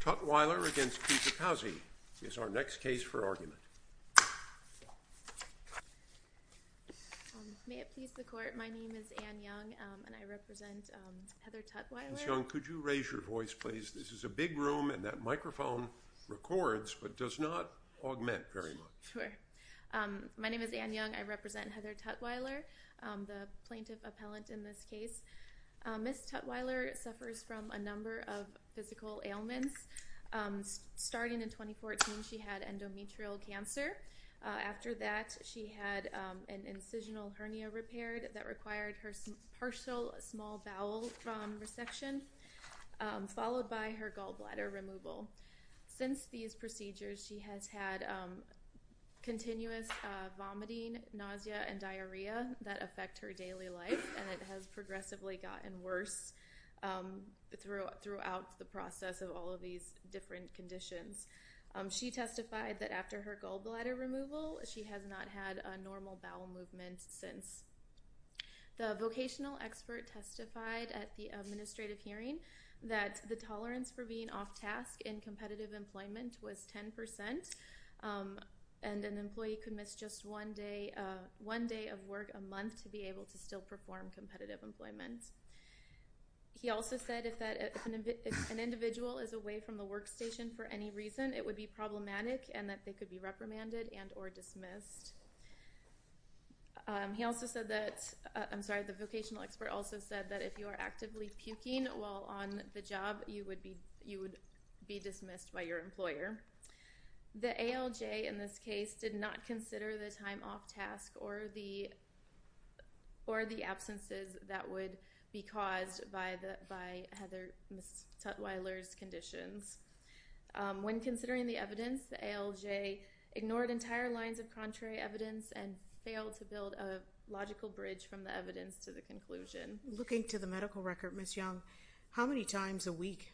Tutwiler v. Kijakazi is our next case for argument. May it please the court, my name is Anne Young and I represent Heather Tutwiler. Ms. Young, could you raise your voice please? This is a big room and that microphone records but does not augment very much. My name is Anne Young. I represent Heather Tutwiler, the plaintiff appellant in this case. Ms. Tutwiler suffers from a number of physical ailments. Starting in 2014 she had endometrial cancer. After that she had an incisional hernia repaired that required her partial small bowel resection followed by her gallbladder removal. Since these procedures she has had continuous vomiting, nausea and diarrhea that affect her worse throughout the process of all of these different conditions. She testified that after her gallbladder removal she has not had a normal bowel movement since. The vocational expert testified at the administrative hearing that the tolerance for being off task in competitive employment was 10% and an employee could miss just one day of work a month to be able to still perform competitive employment. He also said if an individual is away from the workstation for any reason it would be problematic and that they could be reprimanded and or dismissed. He also said that, I'm sorry, the vocational expert also said that if you are actively puking while on the job you would be dismissed by your employer. The ALJ in this case did not that would be caused by Heather Tutwiler's conditions. When considering the evidence the ALJ ignored entire lines of contrary evidence and failed to build a logical bridge from the evidence to the conclusion. Looking to the medical record, Ms. Young, how many times a week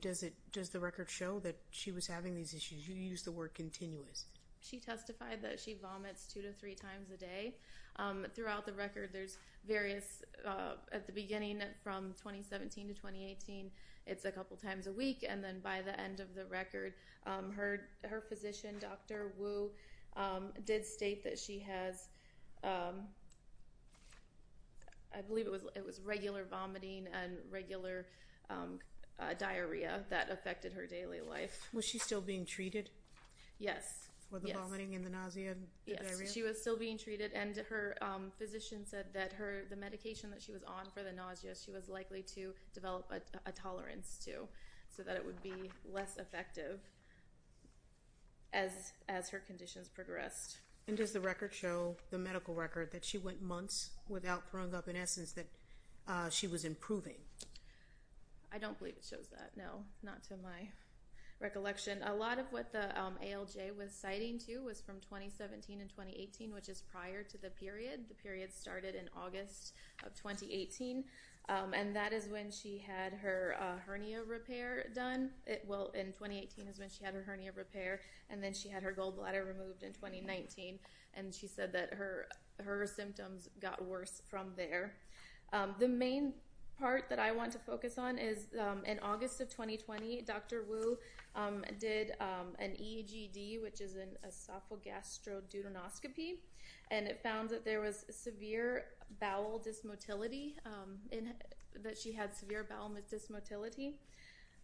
does it does the record show that she was having these issues? You use the word continuous. She testified that she vomits two to three times a day. Throughout the record there's various at the beginning from 2017 to 2018 it's a couple times a week and then by the end of the record her physician Dr. Wu did state that she has I believe it was it was regular vomiting and regular diarrhea that affected her daily life. Was she still being treated? Yes. For the vomiting and the nausea? Yes she was still being treated and her physician said that her the medication that she was on for the nausea she was likely to develop a tolerance to so that it would be less effective as as her conditions progressed. And does the record show the medical record that she went months without throwing up in essence that she was improving? I don't believe it shows no not to my recollection. A lot of what the ALJ was citing too was from 2017 and 2018 which is prior to the period. The period started in August of 2018 and that is when she had her hernia repair done. Well in 2018 is when she had her hernia repair and then she had her gold bladder removed in 2019 and she said that her her symptoms got worse from there. The main part that I want to point out is that in August of 2020 Dr. Wu did an EGD which is an esophagastrodontoscopy and it found that there was severe bowel dysmotility in that she had severe bowel dysmotility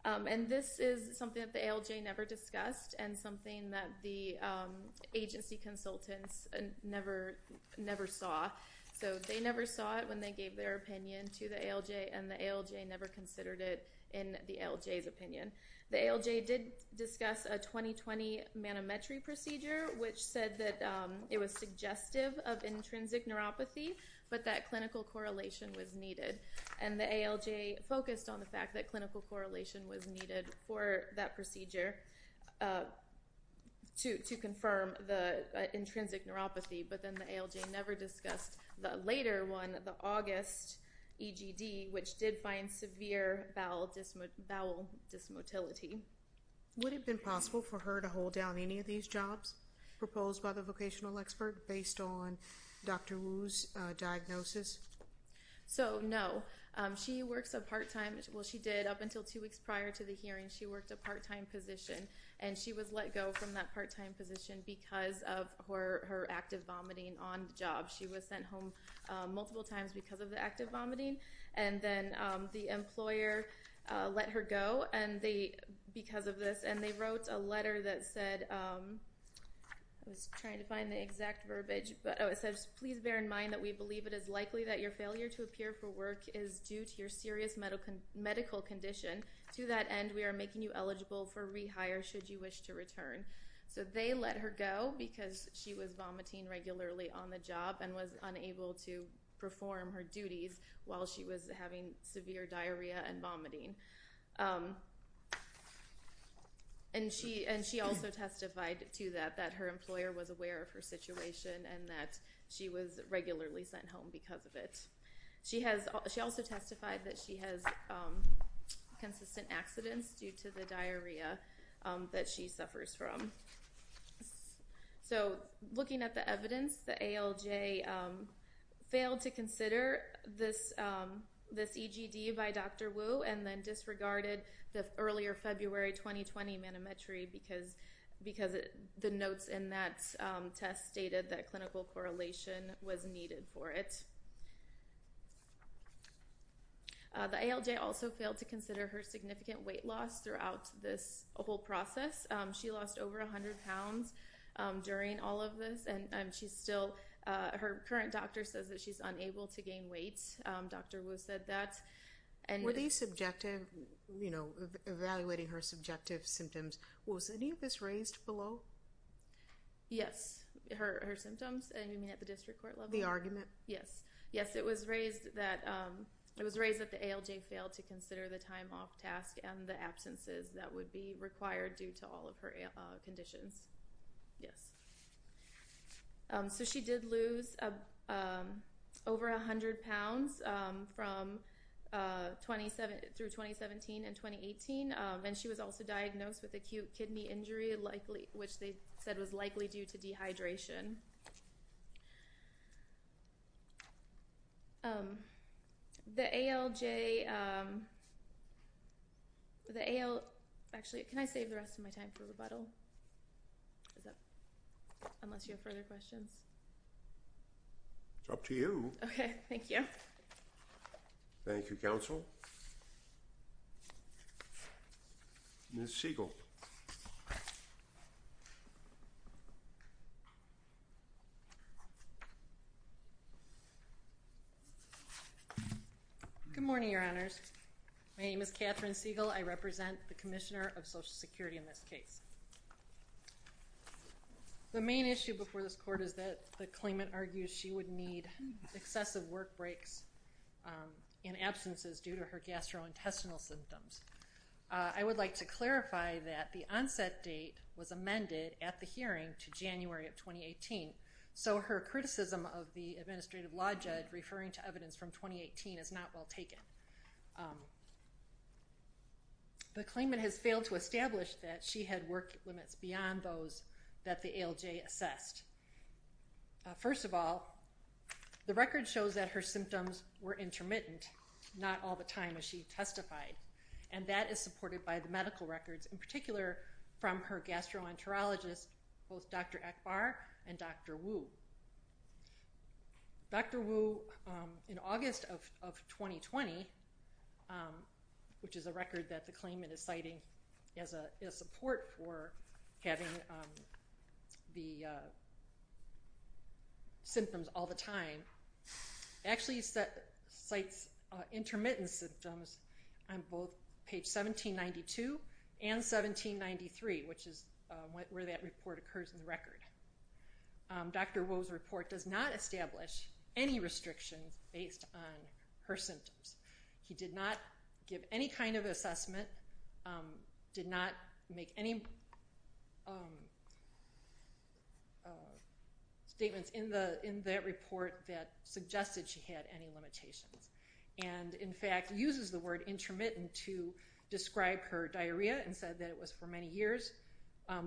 and this is something that the ALJ never discussed and something that the agency consultants never never saw. So they never saw it when they gave their opinion to the ALJ and the ALJ never considered it in the ALJ's opinion. The ALJ did discuss a 2020 manometry procedure which said that it was suggestive of intrinsic neuropathy but that clinical correlation was needed and the ALJ focused on the fact that clinical correlation was needed for that procedure to to confirm the intrinsic neuropathy but then the ALJ never discussed the later one the August EGD which did find severe bowel dysmotility. Would it have been possible for her to hold down any of these jobs proposed by the vocational expert based on Dr. Wu's diagnosis? So no. She works a part-time well she did up until two weeks prior to the hearing she worked a part-time position and she was let go from that part-time position because of her her active vomiting on she was sent home multiple times because of the active vomiting and then the employer let her go and they because of this and they wrote a letter that said I was trying to find the exact verbiage but oh it says please bear in mind that we believe it is likely that your failure to appear for work is due to your serious medical medical condition to that end we are making you eligible for rehire should you wish to return so they let her go because she was vomiting regularly on the job and was unable to perform her duties while she was having severe diarrhea and vomiting and she and she also testified to that that her employer was aware of her situation and that she was regularly sent home because of it she has she also testified that she has consistent accidents due to the diarrhea that she suffers from so looking at the evidence the ALJ failed to consider this this EGD by Dr. Wu and then disregarded the earlier February 2020 manometry because because the notes in that test stated that clinical correlation was needed for it so the ALJ also failed to consider her significant weight loss throughout this whole process she lost over 100 pounds during all of this and she's still her current doctor says that she's unable to gain weight Dr. Wu said that and were these subjective you know evaluating her subjective symptoms was any of this raised below yes her her symptoms and you mean at the district court level the argument yes yes it was raised that it was raised that the ALJ failed to consider the time off task and the absences that would be required due to all of her conditions yes so she did lose over a hundred pounds from 27 through 2017 and 2018 and she was also diagnosed with acute kidney injury likely which they said was likely due to dehydration the ALJ the AL actually can I save the rest of my time for rebuttal unless you have further questions it's up to you okay thank you thank you counsel Miss Siegel good morning your honors my name is Catherine Siegel I represent the commissioner of social security in this case the main issue before this court is that the claimant argues she would need excessive work breaks in absences due to her gastrointestinal symptoms I would like to clarify that the onset date was amended at the hearing to January of 2018 so her criticism of the administrative law judge referring to evidence from 2018 is not well taken the claimant has failed to establish that she had work limits beyond those that the ALJ assessed first of all the record shows that her symptoms were intermittent not all the time as she testified and that is supported by the medical records in particular from her gastroenterologist both Dr. Akbar and Dr. Wu. Dr. Wu in August of 2020 which is a record that the claimant is citing as a support for having the symptoms all the time actually cites intermittent symptoms on both page 1792 and 1793 which is where that report occurs in the record. Dr. Wu's report does not establish any restrictions based on her symptoms he did not give any kind of assessment did not make any statements in the in that report that suggested she had any limitations and in fact uses the word intermittent to describe her diarrhea and said that it was for many years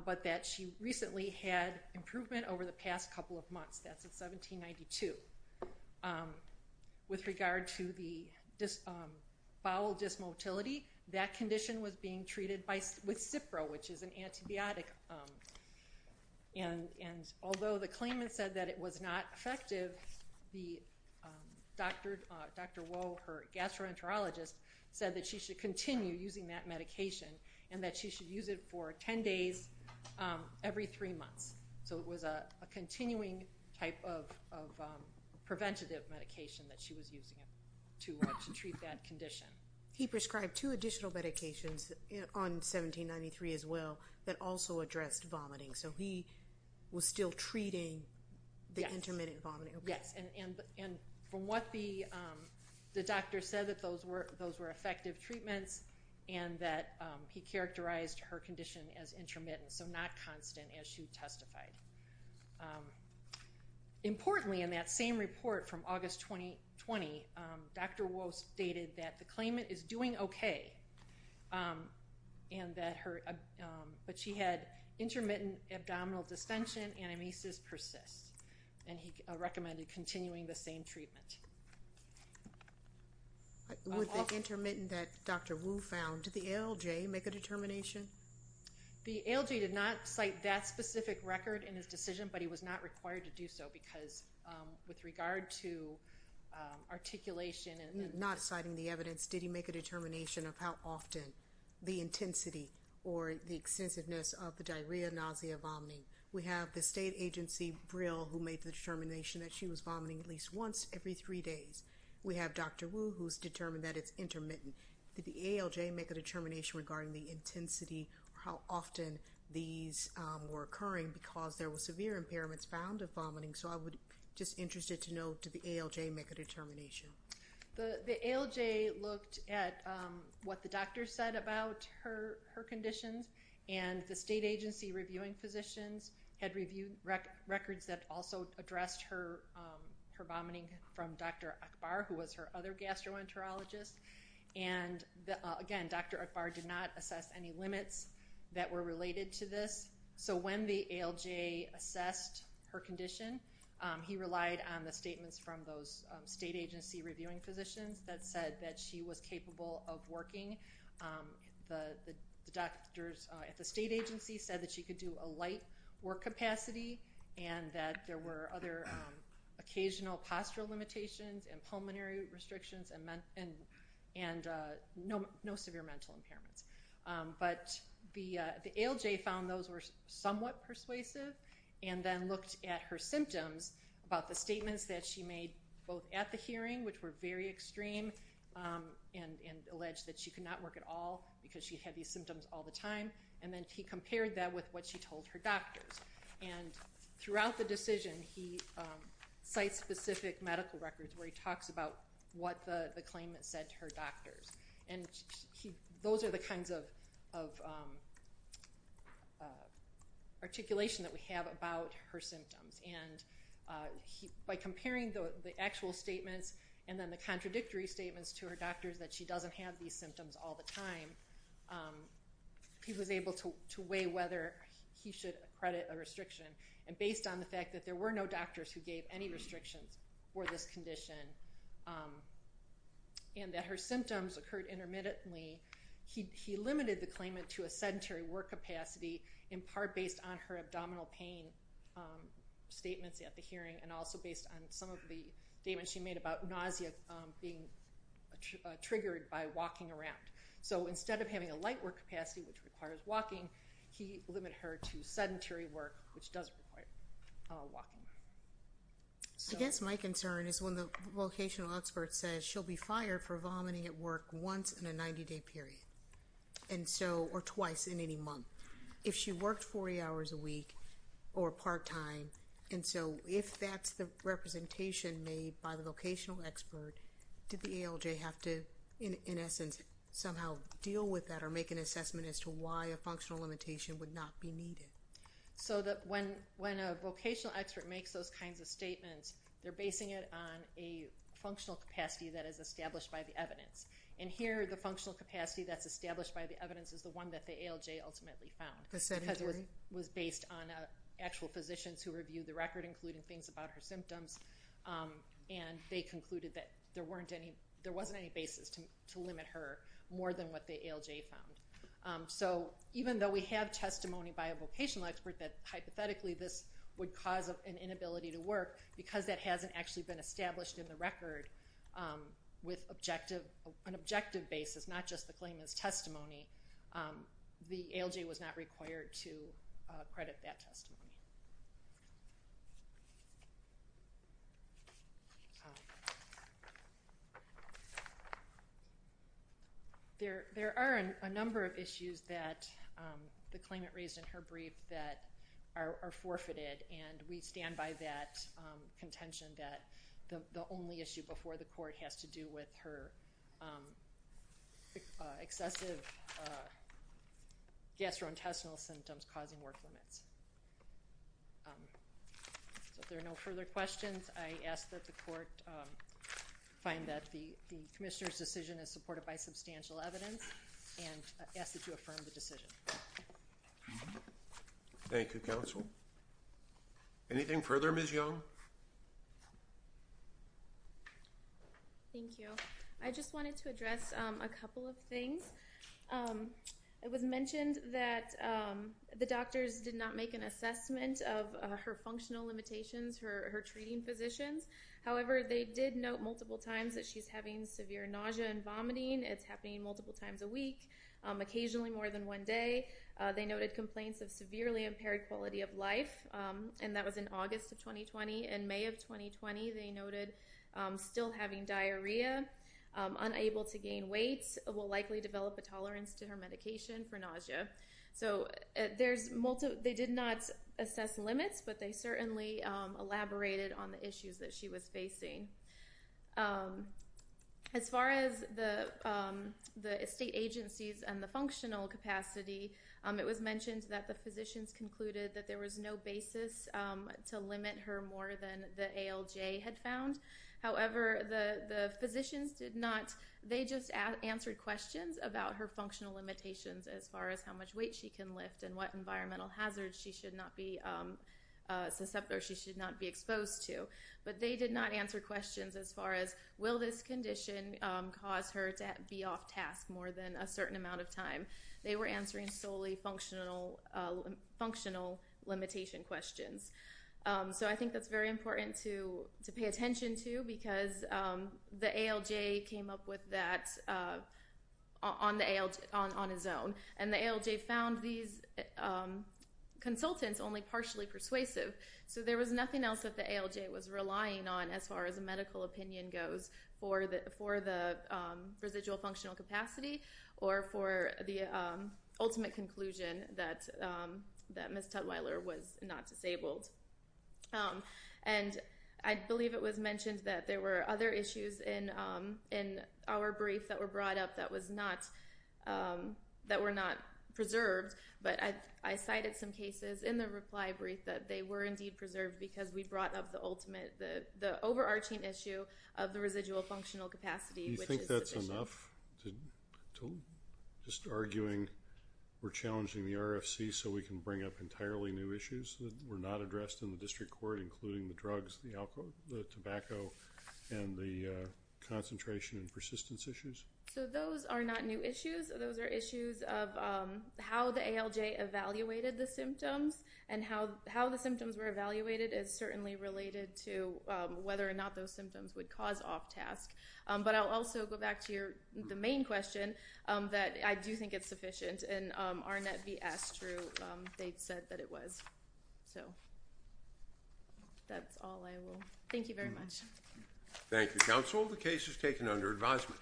but that she recently had improvement over the past couple of months that's at 1792 with regard to the bowel dysmotility that condition was being treated by with Cipro which is an antibiotic and although the claimant said that it was not effective the Dr. Wu her gastroenterologist said that she should continue using that medication and that she should use it for 10 days every three months so it was a continuing type of preventative medication that she was using to treat that condition. He prescribed two additional medications on 1793 as well that also addressed vomiting so he was still treating the intermittent vomiting. Yes and from what the doctor said that those were those were effective treatments and that he characterized her condition as intermittent so not constant as she testified. Importantly in that same report from August 2020 Dr. Wu stated that the claimant is doing okay and that her but she had intermittent abdominal distension and amnesia persists and he recommended continuing the same treatment. With the intermittent that Dr. Wu found did the ALJ make a determination? The ALJ did not cite that specific record in his decision but he was not required to do so because with regard to articulation and not citing the evidence did he make a determination of how often the intensity or the extensiveness of the diarrhea nausea vomiting. We have the state agency Brill who made the determination that she was vomiting at least once every three months we have Dr. Wu who's determined that it's intermittent. Did the ALJ make a determination regarding the intensity or how often these were occurring because there were severe impairments found of vomiting so I would just interested to know did the ALJ make a determination? The ALJ looked at what the doctor said about her her conditions and the state agency reviewing physicians had reviewed records that also addressed her vomiting from Dr. Akbar who was her other gastroenterologist and again Dr. Akbar did not assess any limits that were related to this so when the ALJ assessed her condition he relied on the statements from those state agency reviewing physicians that said that she was capable of working. The doctors at the state agency said that she could do a light work capacity and that there were other occasional postural limitations and pulmonary restrictions and no severe mental impairments but the ALJ found those were somewhat persuasive and then looked at her symptoms about the statements that she made both at the hearing which were very extreme and alleged that she could not work at all because she had these symptoms all the time and then he compared that with what she told her doctors and throughout the decision he cites specific medical records where he talks about what the claimant said to her doctors and those are the kinds of articulation that we have about her symptoms and by comparing the actual statements and then the contradictory statements to her time he was able to weigh whether he should accredit a restriction and based on the fact that there were no doctors who gave any restrictions for this condition and that her symptoms occurred intermittently he limited the claimant to a sedentary work capacity in part based on her abdominal pain statements at the hearing and also based on some of the about nausea being triggered by walking around so instead of having a light work capacity which requires walking he limited her to sedentary work which does require walking. I guess my concern is when the vocational expert says she'll be fired for vomiting at work once in a 90-day period and so or twice in any month if she worked 40 hours a week or part-time and so if that's the expert did the ALJ have to in essence somehow deal with that or make an assessment as to why a functional limitation would not be needed? So that when a vocational expert makes those kinds of statements they're basing it on a functional capacity that is established by the evidence and here the functional capacity that's established by the evidence is the one that the ALJ ultimately found. The sedentary? Because it was based on actual physicians who concluded that there wasn't any basis to limit her more than what the ALJ found. So even though we have testimony by a vocational expert that hypothetically this would cause an inability to work because that hasn't actually been established in the record with an objective basis not just the claimant's testimony the ALJ was not required to credit that testimony. There are a number of issues that the claimant raised in her brief that are forfeited and we stand by that contention that the only issue before the court has to do with her excessive gastrointestinal symptoms causing work limits. So if there are no further questions I ask that the court find that the the commissioner's decision is supported by substantial evidence and ask that you affirm the decision. Thank you counsel. Anything further Ms. Young? Thank you. I just wanted to address a couple of things. It was mentioned that the doctors did not make an assessment of her functional limitations, her treating physicians. However they did note multiple times that she's having severe nausea and vomiting. It's happening multiple times a week, occasionally more than one day. They noted complaints of severely impaired quality of life and that was in August of 2020. In May of 2020 they noted still having diarrhea, unable to gain weight, will likely develop a tolerance to her medication for nausea. So they did not assess limits but they certainly elaborated on the issues that she was facing. As far as the the state agencies and the functional capacity it was mentioned that physicians concluded that there was no basis to limit her more than the ALJ had found. However the the physicians did not, they just answered questions about her functional limitations as far as how much weight she can lift and what environmental hazards she should not be susceptible or she should not be exposed to. But they did not answer questions as far as will this condition cause her to be off task more than a certain amount of time. They were answering solely functional limitation questions. So I think that's very important to to pay attention to because the ALJ came up with that on his own and the ALJ found these consultants only partially persuasive. So there was nothing else that the ALJ was relying on as far as a medical opinion goes for the residual functional capacity or for the ultimate conclusion that that Ms. Tuttweiler was not disabled. And I believe it was mentioned that there were other issues in our brief that were brought up that were not preserved. But I cited some cases in the reply brief that they were indeed preserved because we brought the overarching issue of the residual functional capacity. Do you think that's enough to just arguing we're challenging the RFC so we can bring up entirely new issues that were not addressed in the district court including the drugs, the alcohol, the tobacco, and the concentration and persistence issues? So those are not new issues. Those are issues of how the ALJ evaluated the symptoms and how the symptoms were evaluated is certainly related to whether or not those symptoms would cause off-task. But I'll also go back to your the main question that I do think it's sufficient and Arnett vs. Drew they've said that it was. So that's all I will. Thank you very much. Thank you counsel. The case is taken under advisement.